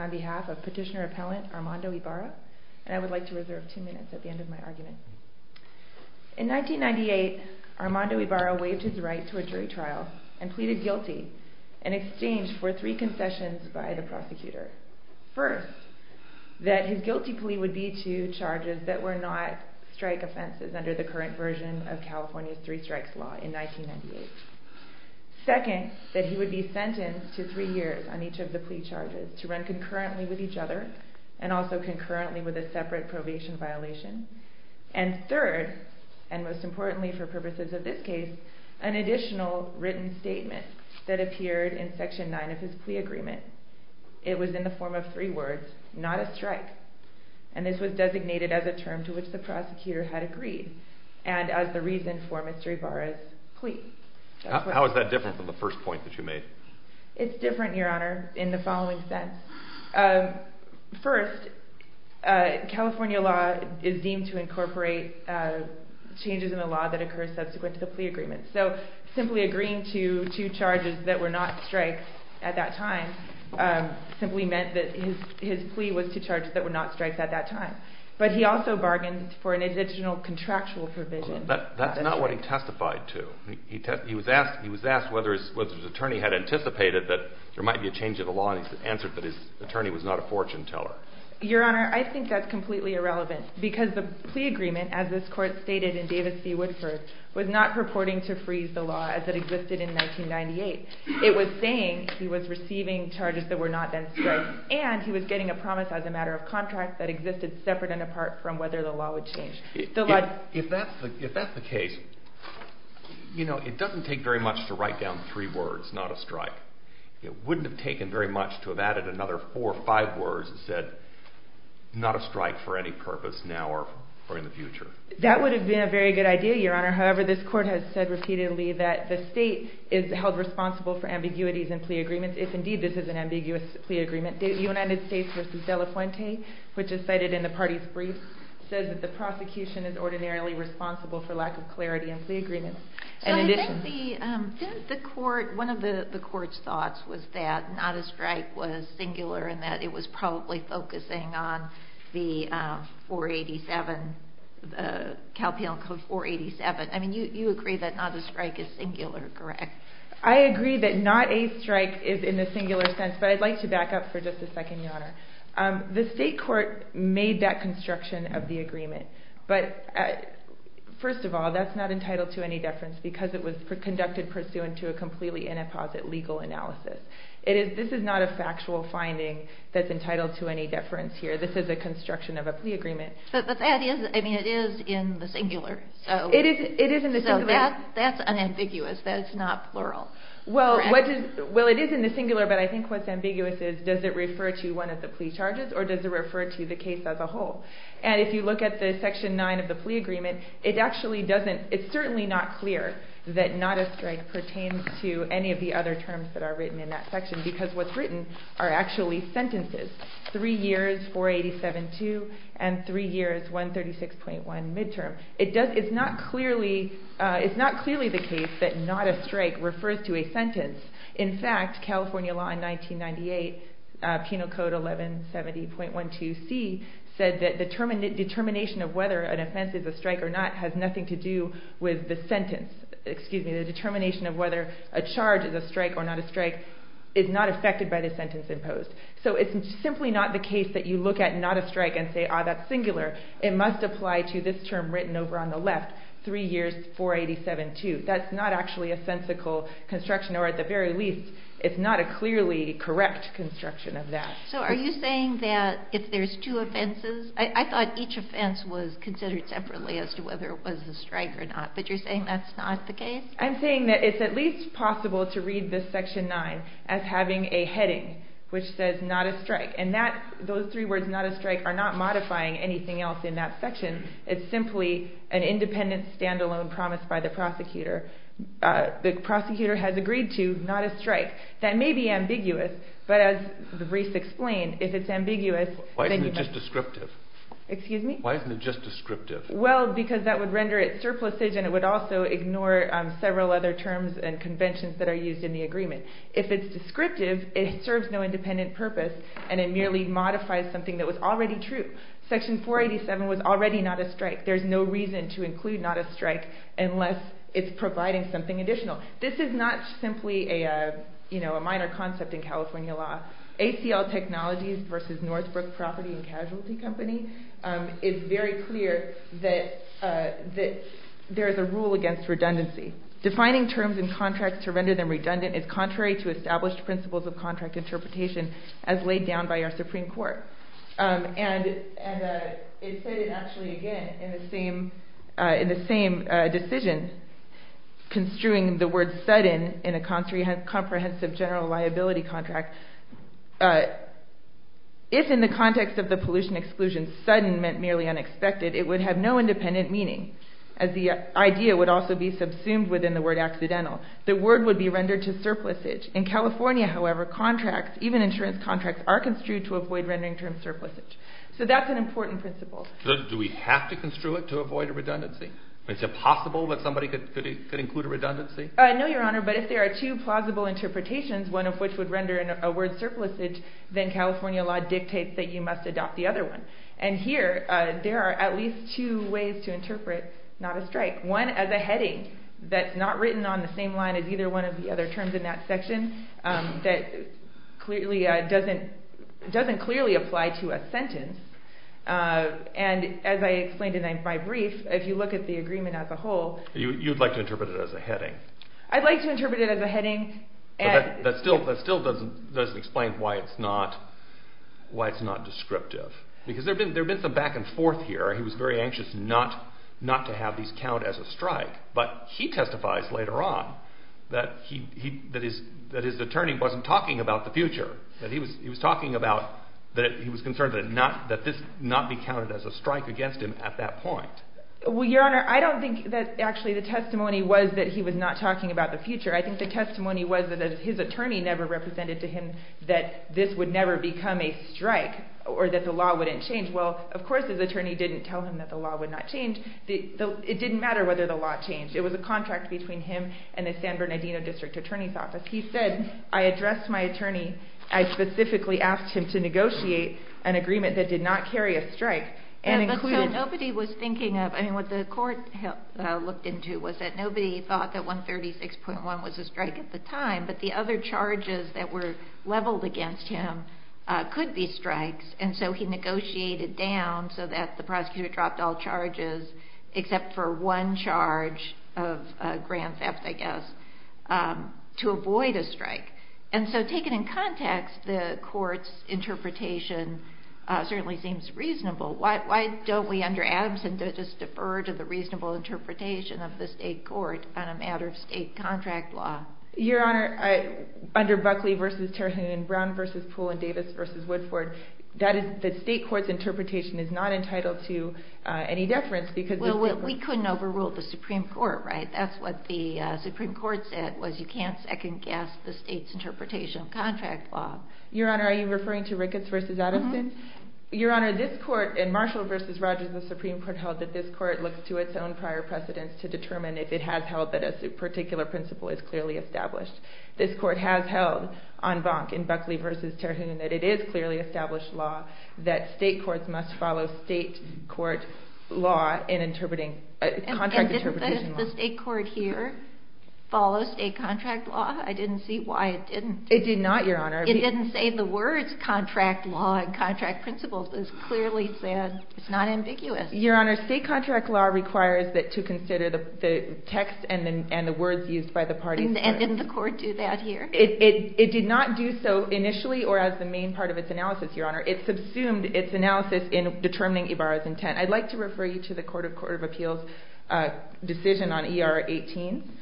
on behalf of Petitioner Appellant Armando Ybarra, and I would like to reserve two minutes at the end of my argument. In 1998, Armando Ybarra waived his right to a jury trial and pleaded guilty in exchange for three concessions by the prosecutor. First, that his guilty plea would be to charges that were not strike offenses under the current version of California's three strikes law in 1998. Second, that he would be sentenced to three years on each of the plea charges to run concurrently with each other and also concurrently with a separate probation violation. And third, and most importantly for purposes of this case, an additional written statement that appeared in Section 9 of his plea agreement. It was in the form of three and this was designated as a term to which the prosecutor had agreed and as the reason for Mr. Ybarra's plea. How is that different from the first point that you made? It's different, Your Honor, in the following sense. First, California law is deemed to incorporate changes in the law that occur subsequent to the plea agreement. So simply agreeing to two charges that were not strikes at that time simply meant that his plea was to charges that were not strikes at that time. But he also bargained for an additional contractual provision. That's not what he testified to. He was asked whether his attorney had anticipated that there might be a change in the law and he answered that his attorney was not a fortune teller. Your Honor, I think that's completely irrelevant because the plea agreement, as this Court stated in Davis v. Woodford, was not purporting to freeze the law as it existed in 1998. It was saying he was receiving charges that were not then strikes and he was getting a promise as a matter of contract that existed separate and apart from whether the law would change. If that's the case, you know, it doesn't take very much to write down three words, not a strike. It wouldn't have taken very much to have added another four or five words that said not a strike for any purpose now or in the future. That would have been a very good idea, Your Honor. However, this Court has said repeatedly that the state is held responsible for ambiguities in plea agreements if indeed this is an ambiguous plea agreement. United States v. De La Fuente, which is cited in the party's brief, says that the prosecution is ordinarily responsible for lack of clarity in plea agreements. In addition... So I think the Court, one of the Court's thoughts was that not a strike was singular and that it was probably focusing on the 487, the Calpheon Code 487. I mean, you agree that not a strike is singular, correct? I agree that not a strike is in the singular sense, but I'd like to back up for just a second, Your Honor. The state court made that construction of the agreement, but first of all, that's not entitled to any deference because it was conducted pursuant to a completely inapposite legal analysis. This is not a factual finding that's entitled to any deference here. This is a construction of a plea agreement. But that is, I mean, it is in the singular. It is in the singular. So that's unambiguous. That's not plural. Well, it is in the singular, but I think what's ambiguous is does it refer to one of the plea charges or does it refer to the case as a whole? And if you look at the Section 9 of the plea agreement, it actually doesn't, it's certainly not clear that not a strike pertains to any of the other terms that are written in that section because what's three years 487-2 and three years 136.1 midterm. It does, it's not clearly, it's not clearly the case that not a strike refers to a sentence. In fact, California law in 1998, Penal Code 1170.12c said that the determination of whether an offense is a strike or not has nothing to do with the sentence, excuse me, the determination of whether a charge is a strike or not a So it's simply not the case that you look at not a strike and say, ah, that's singular. It must apply to this term written over on the left, three years 487-2. That's not actually a sensical construction or at the very least, it's not a clearly correct construction of that. So are you saying that if there's two offenses, I thought each offense was considered separately as to whether it was a strike or not, but you're saying that's not the case? I'm saying that it's at least possible to read this Section 9 as having a heading which says, not a strike. And that, those three words, not a strike, are not modifying anything else in that section. It's simply an independent stand-alone promise by the prosecutor. The prosecutor has agreed to not a strike. That may be ambiguous, but as Reece explained, if it's ambiguous, then you must... Why isn't it just descriptive? Excuse me? Why isn't it just descriptive? Well, because that would render it surplusage and it would also ignore several other terms and conventions that are used in the agreement. If it's descriptive, it serves no independent purpose and it merely modifies something that was already true. Section 487 was already not a strike. There's no reason to include not a strike unless it's providing something additional. This is not simply a minor concept in California law. ACL Technologies versus Northbrook Property and Casualty Company is very clear that there is a rule against redundancy. Defining terms and contracts to render them redundant is not in the rules of contract interpretation as laid down by our Supreme Court. And it said it actually again in the same decision construing the word sudden in a comprehensive general liability contract. If in the context of the pollution exclusion, sudden meant merely unexpected, it would have no independent meaning as the idea would also be subsumed within the word accidental. The word would be rendered to surplusage. In California, however, even insurance contracts are construed to avoid rendering terms surplusage. So that's an important principle. So do we have to construe it to avoid a redundancy? Is it possible that somebody could include a redundancy? No, Your Honor, but if there are two plausible interpretations, one of which would render a word surplusage, then California law dictates that you must adopt the other one. And here, there are at least two ways to interpret not a strike. One as a heading that's not written on the same line as either one of the other terms in that section that doesn't clearly apply to a sentence. And as I explained in my brief, if you look at the agreement as a whole... You'd like to interpret it as a heading? I'd like to interpret it as a heading. That still doesn't explain why it's not descriptive. Because there have been some back and forth here. He was very anxious not to have these count as a strike. But he testifies later on that his attorney wasn't talking about the future. That he was concerned that this not be counted as a strike against him at that point. Well, Your Honor, I don't think that actually the testimony was that he was not talking about the future. I think the testimony was that his attorney never represented to him that this would never become a strike or that the law wouldn't change. Well, of course, it didn't matter whether the law changed. It was a contract between him and the San Bernardino District Attorney's Office. He said, I addressed my attorney. I specifically asked him to negotiate an agreement that did not carry a strike. But nobody was thinking of... I mean, what the court looked into was that nobody thought that 136.1 was a strike at the time. But the other charges that were leveled against him could be strikes. And so he negotiated down so that the prosecutor dropped all charges except for one charge of grand theft, I guess, to avoid a strike. And so taken in context, the court's interpretation certainly seems reasonable. Why don't we, under Adamson, just defer to the reasonable interpretation of the state court on a matter of state contract law? Your Honor, under Buckley v. Terhune and Brown v. Poole and Davis v. Woodford, the state court's interpretation is not entitled to any deference because... Well, we couldn't overrule the Supreme Court, right? That's what the Supreme Court said, was you can't second-guess the state's interpretation of contract law. Your Honor, are you referring to Ricketts v. Adamson? Mm-hmm. Your Honor, this court in Marshall v. Rogers, the Supreme Court held that this court looks to its own prior precedents to determine if it has held that a particular principle is clearly established. This court has held on Bonk in Buckley v. Terhune that it is clearly established law, that state courts must follow state court law in interpreting, contract interpretation law. And didn't the state court here follow state contract law? I didn't see why it didn't. It did not, Your Honor. It didn't say the words contract law and contract principles. It clearly said it's not ambiguous. Your Honor, state contract law requires that to consider the text and the words used by the parties. And didn't the court do that here? It did not do so initially or as the main part of its analysis, Your Honor. It subsumed its analysis in determining Ibarra's intent. I'd like to refer you to the Court of Appeals decision on ER 18.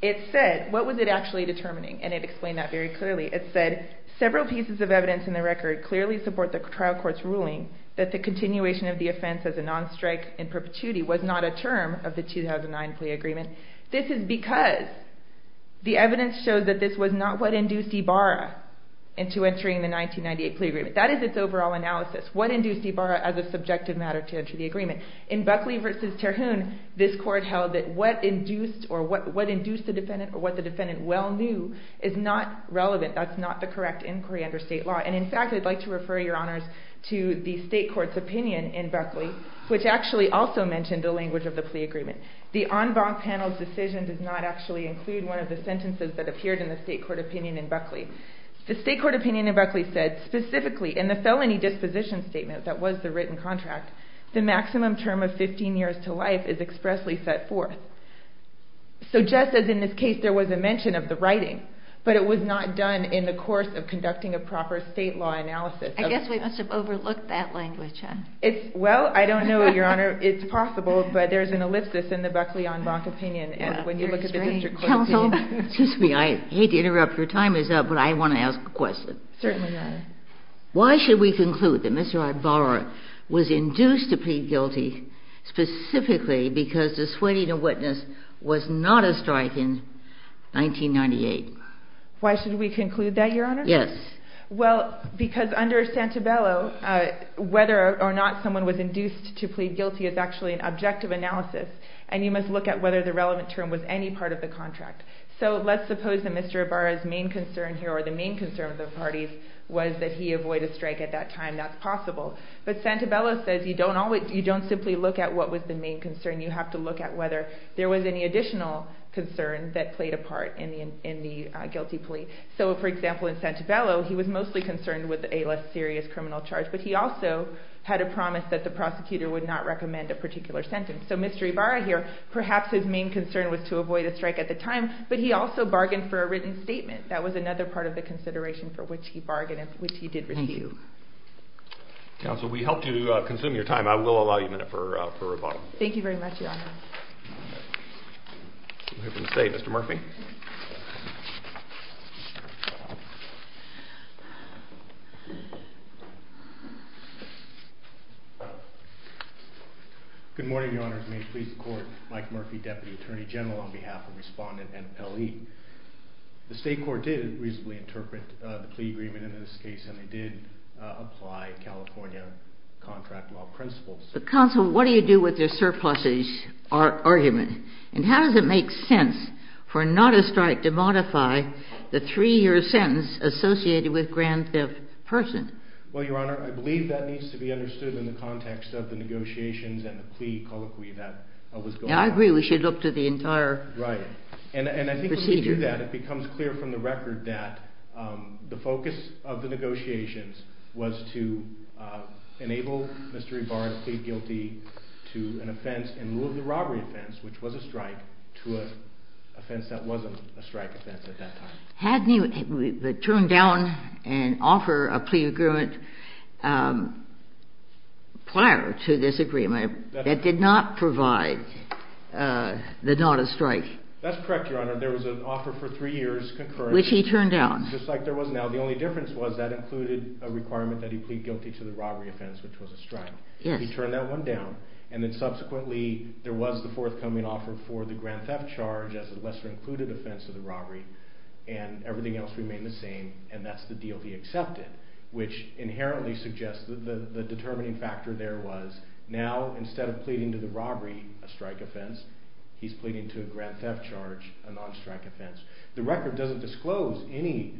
It said, what was it actually determining? And it explained that very clearly. It said, several pieces of evidence in the record clearly support the trial court's ruling that the continuation of the offense as a non-strike in perpetuity was not a term of the 2009 plea agreement. This is because the evidence shows that this was not what induced Ibarra into entering the 1998 plea agreement. That is its overall analysis, what induced Ibarra as a subjective matter to enter the agreement. In Buckley v. Terhune, this court held that what induced the defendant or what the defendant well knew is not relevant. That's not the correct inquiry under state law. And in fact, I'd like to refer, Your Honors, to the state court's opinion in Buckley, which actually also mentioned the language of the plea agreement. The en banc panel's decision does not actually include one of the sentences that appeared in the state court opinion in Buckley. The state court opinion in Buckley said, specifically in the felony disposition statement that was the written contract, the maximum term of 15 years to life is expressly set forth. So just as in this case there was a mention of the writing, but it was not done in the course of conducting a proper state law analysis. I guess we must have overlooked that language, huh? Well, I don't know, Your Honor. It's possible, but there's an ellipsis in the Buckley en banc opinion. And when you look at the district court opinion. Excuse me. I hate to interrupt. Your time is up, but I want to ask a question. Certainly, Your Honor. Why should we conclude that Mr. Ibarra was induced to plead guilty specifically because dissuading a witness was not a strike in 1998? Why should we conclude that, Your Honor? Yes. Well, because under Santabello, whether or not someone was induced to plead guilty is actually an objective analysis, and you must look at whether the relevant term was any part of the contract. So let's suppose that Mr. Ibarra's main concern here, or the main concern of the parties, was that he avoid a strike at that time. That's possible. But Santabello says you don't simply look at what was the main concern. You have to look at whether there was any additional concern that played a part in the guilty plea. So, for example, in Santabello, he was mostly concerned with a less serious criminal charge, but he also had a promise that the prosecutor would not recommend a particular sentence. So Mr. Ibarra here, perhaps his main concern was to avoid a strike at the time, but he also bargained for a written statement. That was another part of the consideration for which he bargained and which he did refute. Thank you. Counsel, we hope to consume your time. I will allow you a minute for rebuttal. Thank you very much, Your Honor. Moving to the State, Mr. Murphy. Good morning, Your Honors. May it please the Court. Mike Murphy, Deputy Attorney General, on behalf of Respondent and Pelley. The State Court did reasonably interpret the plea agreement in this case, and they did apply California contract law principles. But, Counsel, what do you do with the surpluses argument? And how does it make sense for not a strike to modify the three-year sentence associated with Grand Theft Person? Well, Your Honor, I believe that needs to be understood in the context of the negotiations and the plea colloquy that was going on. I agree. We should look to the entire procedure. Right. And I think when you do that, it becomes clear from the record that the focus of the negotiations was to enable Mr. Ibarra to plead guilty to an offense in lieu of the robbery offense, which was a strike, to an offense that wasn't a strike offense at that time. Hadn't he turned down an offer of plea agreement prior to this agreement that did not provide the not a strike? That's correct, Your Honor. There was an offer for three years concurrently. Which he turned down. Just like there was now. The only difference was that included a requirement that he plead guilty to the robbery offense, which was a strike. Yes. He turned that one down. And then subsequently there was the forthcoming offer for the grand theft charge as a lesser included offense of the robbery, and everything else remained the same, and that's the deal he accepted, which inherently suggests that the determining factor there was now instead of pleading to the robbery, a strike offense, he's pleading to a grand theft charge, a non-strike offense. The record doesn't disclose any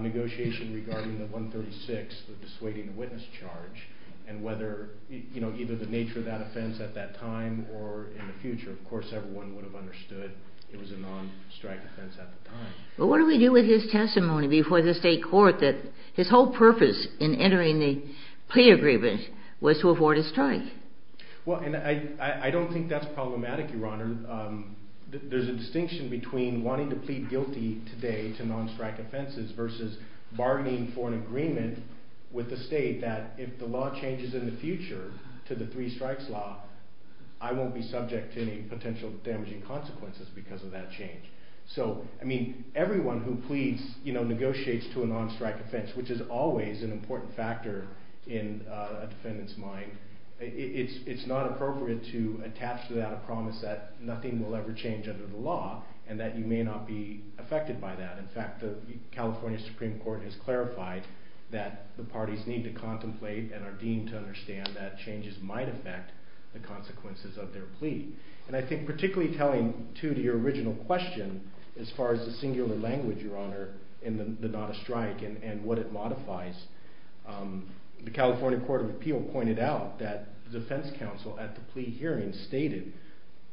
negotiation regarding the 136, the dissuading witness charge, and whether, you know, either the nature of that offense at that time or in the future. Of course, everyone would have understood it was a non-strike offense at the time. But what do we do with his testimony before the state court that his whole purpose in entering the plea agreement was to afford a strike? Well, and I don't think that's problematic, Your Honor. There's a distinction between wanting to plead guilty today to non-strike offenses versus bargaining for an agreement with the state that if the law changes in the future to the three strikes law, I won't be subject to any potential damaging consequences because of that change. So, I mean, everyone who pleads, you know, negotiates to a non-strike offense, which is always an important factor in a defendant's mind, it's not appropriate to attach to that a promise that nothing will ever change under the law and that you may not be affected by that. In fact, the California Supreme Court has clarified that the parties need to contemplate and are deemed to understand that changes might affect the consequences of their plea. And I think particularly telling, too, to your original question, as far as the singular language, Your Honor, in the non-strike and what it modifies, the California Court of Appeal pointed out that the defense counsel at the plea hearing stated,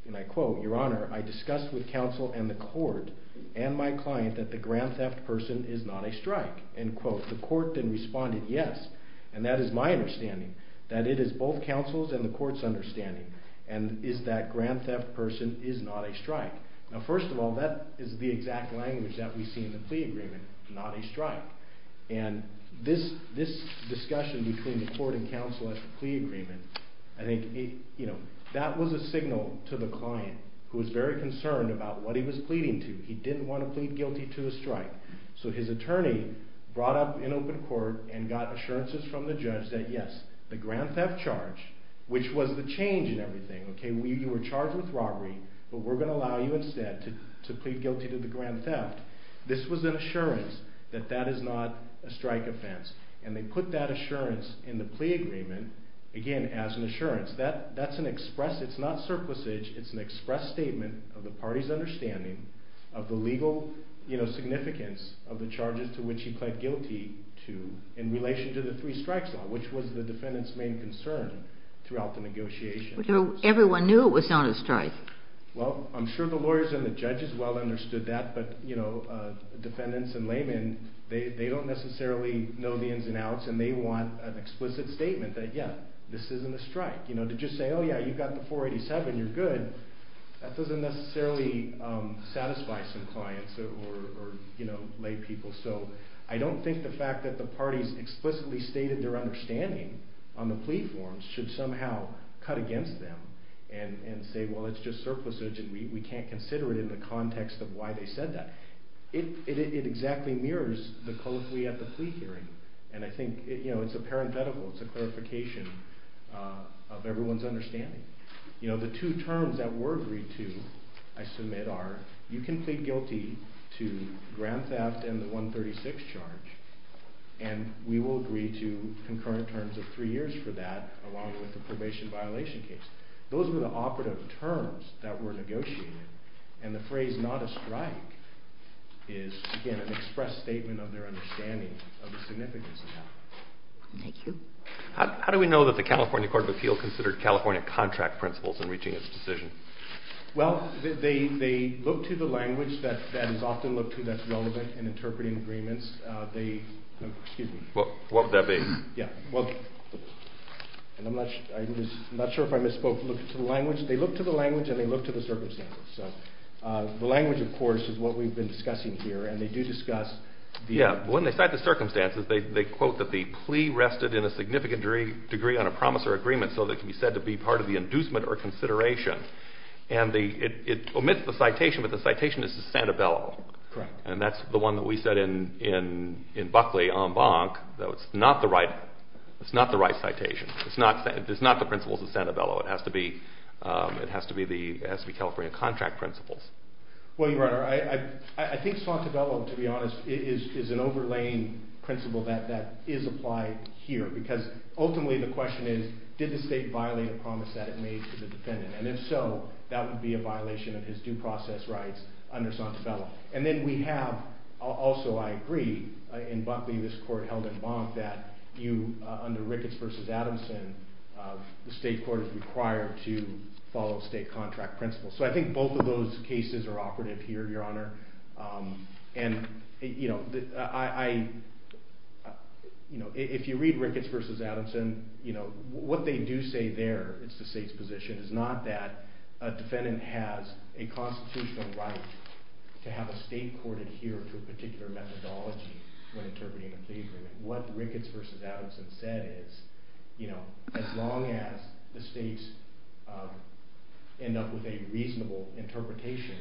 and I quote, Your Honor, I discussed with counsel and the court and my client that the grand theft person is not a strike. End quote. The court then responded yes, and that is my understanding, that it is both counsel's and the court's understanding, and is that grand theft person is not a strike. Now, first of all, that is the exact language that we see in the plea agreement, not a strike. And this discussion between the court and counsel at the plea agreement, I think, you know, that was a signal to the client, who was very concerned about what he was pleading to. He didn't want to plead guilty to a strike. So his attorney brought up in open court and got assurances from the judge that yes, the grand theft charge, which was the change in everything, okay, you were charged with robbery, but we're going to allow you instead to plead guilty to the grand theft. This was an assurance that that is not a strike offense, and they put that assurance in the plea agreement, again, as an assurance. That's an express, it's not surplusage, it's an express statement of the party's understanding of the legal, you know, significance of the charges to which he pled guilty to in relation to the three strikes law, which was the defendant's main concern throughout the negotiations. Everyone knew it was not a strike. Well, I'm sure the lawyers and the judges well understood that, but, you know, defendants and laymen, they don't necessarily know the ins and outs, and they want an explicit statement that, yeah, this isn't a strike. You know, to just say, oh yeah, you got the 487, you're good, that doesn't necessarily satisfy some clients or, you know, laypeople. So I don't think the fact that the parties explicitly stated their understanding on the plea forms should somehow cut against them and say, well, it's just surplusage and we can't consider it in the context of why they said that. It exactly mirrors the code we have at the plea hearing, and I think, you know, it's a parenthetical, it's a clarification of everyone's understanding. You know, the two terms that were agreed to, I submit, are you can plead guilty to grand theft and the 136 charge, and we will agree to concurrent terms of three years for that, along with the probation violation case. Those were the operative terms that were negotiated, and the phrase not a strike is, again, an express statement of their understanding of the significance of that. Thank you. How do we know that the California Court of Appeal considered California contract principles in reaching its decision? Well, they looked to the language that is often looked to that's relevant in interpreting agreements. They, excuse me. What would that be? Yeah, well, and I'm not sure if I misspoke. Look to the language. They looked to the language and they looked to the circumstances. So the language, of course, is what we've been discussing here, and they do discuss the- Yeah. When they cite the circumstances, they quote that the plea rested in a significant degree on a promise or agreement so that it can be said to be part of the inducement or consideration. And it omits the citation, but the citation is to Santabello. Correct. And that's the one that we said in Buckley en banc that it's not the right citation. It's not the principles of Santabello. It has to be California contract principles. Well, Your Honor, I think Santabello, to be honest, is an overlaying principle that is applied here because ultimately the question is did the state violate a promise that it made to the defendant? And if so, that would be a violation of his due process rights under Santabello. And then we have, also I agree, in Buckley this court held en banc that under Ricketts v. Adamson, the state court is required to follow state contract principles. So I think both of those cases are operative here, Your Honor. And if you read Ricketts v. Adamson, what they do say there, it's the state's position, it's not that a defendant has a constitutional right to have a state court adhere to a particular methodology when interpreting a plea agreement. What Ricketts v. Adamson said is, you know, as long as the states end up with a reasonable interpretation,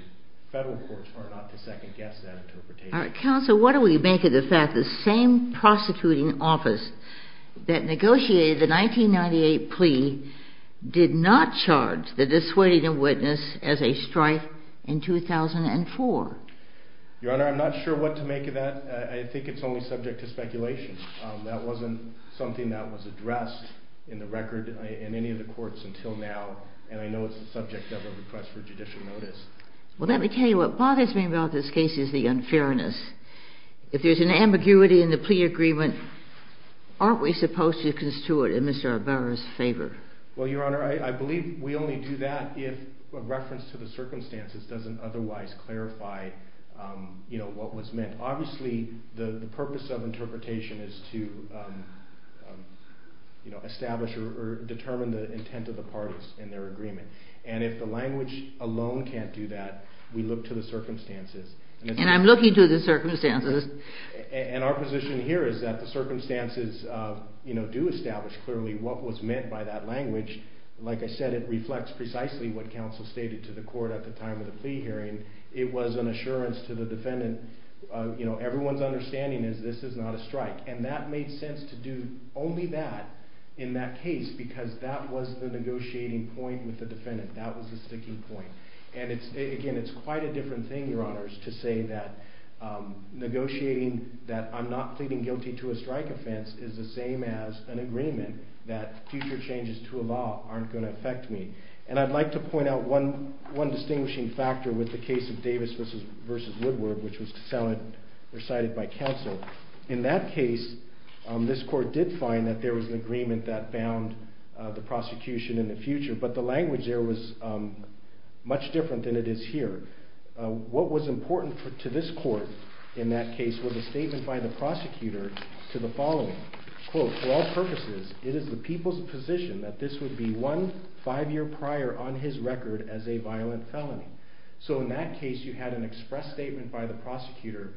federal courts are not to second-guess that interpretation. All right, counsel, what do we make of the fact that the same prosecuting office that negotiated the 1998 plea did not charge the dissuading witness as a strife in 2004? Your Honor, I'm not sure what to make of that. I think it's only subject to speculation. That wasn't something that was addressed in the record in any of the courts until now, and I know it's the subject of a request for judicial notice. Well, let me tell you what bothers me about this case is the unfairness. If there's an ambiguity in the plea agreement, aren't we supposed to construe it in Mr. Arbaro's favor? Well, Your Honor, I believe we only do that if a reference to the circumstances doesn't otherwise clarify, you know, what was meant. Obviously, the purpose of interpretation is to establish or determine the intent of the parties in their agreement. And if the language alone can't do that, we look to the circumstances. And I'm looking to the circumstances. And our position here is that the circumstances, you know, do establish clearly what was meant by that language. Like I said, it reflects precisely what counsel stated to the court at the time of the plea hearing. It was an assurance to the defendant, you know, everyone's understanding is this is not a strike. And that made sense to do only that in that case because that was the negotiating point with the defendant. That was the sticking point. And, again, it's quite a different thing, Your Honors, to say that negotiating that I'm not pleading guilty to a strike offense is the same as an agreement that future changes to a law aren't going to affect me. And I'd like to point out one distinguishing factor with the case of Davis v. Woodward, which was recited by counsel. In that case, this court did find that there was an agreement that bound the prosecution in the future. But the language there was much different than it is here. What was important to this court in that case was a statement by the prosecutor to the following. Quote, for all purposes, it is the people's position that this would be won five years prior on his record as a violent felony. So in that case, you had an express statement by the prosecutor.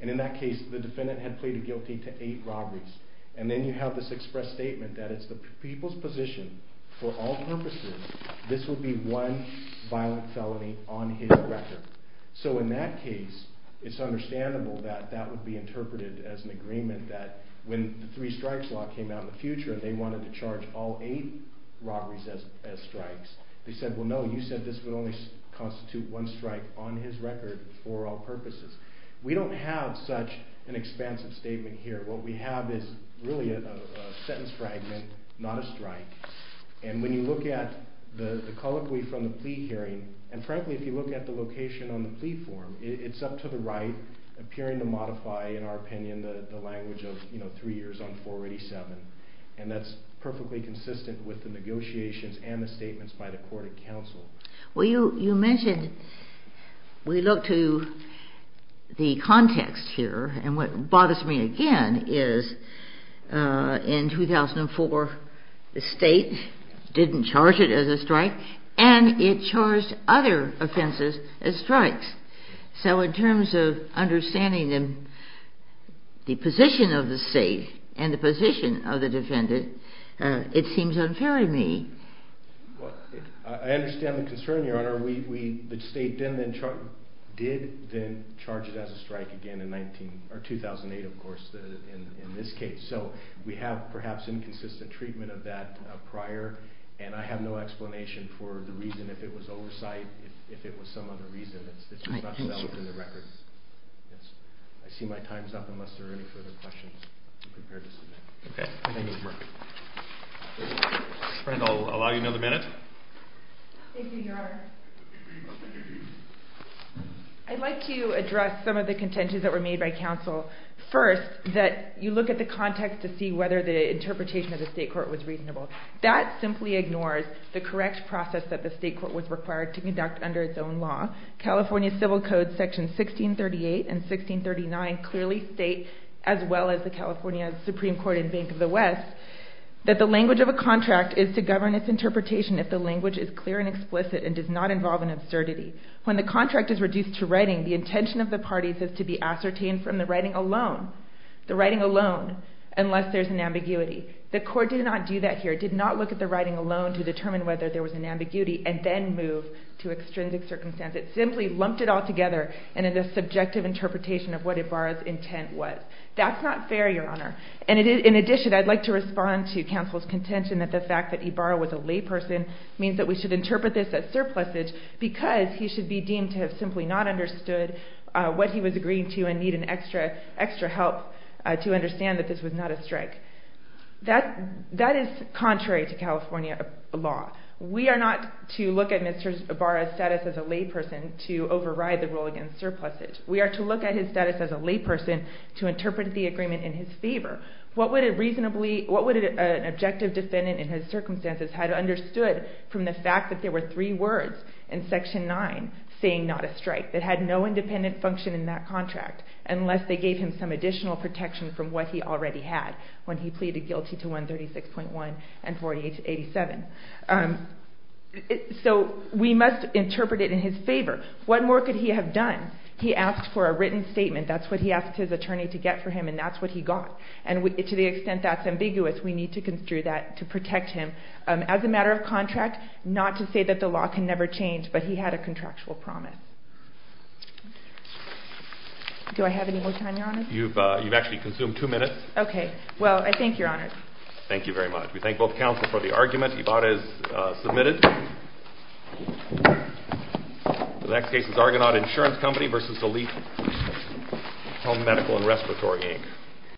And in that case, the defendant had pleaded guilty to eight robberies. And then you have this express statement that it's the people's position, for all purposes, this would be one violent felony on his record. So in that case, it's understandable that that would be interpreted as an agreement that when the three strikes law came out in the future and they wanted to charge all eight robberies as strikes, they said, well, no, you said this would only constitute one strike on his record for all purposes. We don't have such an expansive statement here. What we have is really a sentence fragment, not a strike. And when you look at the colloquy from the plea hearing, and frankly, if you look at the location on the plea form, it's up to the right appearing to modify, in our opinion, the language of three years on 487. And that's perfectly consistent with the negotiations and the statements by the court of counsel. Well, you mentioned we look to the context here. And what bothers me again is in 2004, the state didn't charge it as a strike, and it charged other offenses as strikes. So in terms of understanding the position of the state and the position of the defendant, it seems unfair to me. Well, I understand the concern, Your Honor. The state did then charge it as a strike again in 2008, of course, in this case. So we have perhaps inconsistent treatment of that prior, and I have no explanation for the reason if it was oversight, if it was some other reason that this was not settled in the record. I see my time is up unless there are any further questions. Okay. I'll allow you another minute. Thank you, Your Honor. I'd like to address some of the contentions that were made by counsel. First, that you look at the context to see whether the interpretation of the state court was reasonable. That simply ignores the correct process that the state court was required to conduct under its own law. California Civil Code sections 1638 and 1639 clearly state, as well as the California Supreme Court and Bank of the West, that the language of a contract is to govern its interpretation if the language is clear and explicit and does not involve an absurdity. When the contract is reduced to writing, the intention of the parties is to be ascertained from the writing alone, the writing alone, unless there's an ambiguity. The court did not do that here, did not look at the writing alone to determine whether there was an ambiguity and then move to extrinsic circumstance. It simply lumped it all together in a subjective interpretation of what Ibarra's intent was. That's not fair, Your Honor. In addition, I'd like to respond to counsel's contention that the fact that Ibarra was a layperson means that we should interpret this as surplusage because he should be deemed to have simply not understood what he was agreeing to and need an extra help to understand that this was not a strike. That is contrary to California law. We are not to look at Mr. Ibarra's status as a layperson to override the rule against surplusage. We are to look at his status as a layperson to interpret the agreement in his favor. What would an objective defendant in his circumstances had understood from the fact that there were three words in Section 9 saying not a strike that had no independent function in that contract unless they gave him some additional protection from what he already had when he pleaded guilty to 136.1 and 4887. So we must interpret it in his favor. What more could he have done? He asked for a written statement. That's what he asked his attorney to get for him, and that's what he got. And to the extent that's ambiguous, we need to construe that to protect him. As a matter of contract, not to say that the law can never change, but he had a contractual promise. Do I have any more time, Your Honor? You've actually consumed two minutes. Okay. Well, I thank Your Honor. Thank you very much. We thank both counsel for the argument. Ibarra is submitted. The next case is Argonaut Insurance Company v. Elite Home Medical and Respiratory, Inc.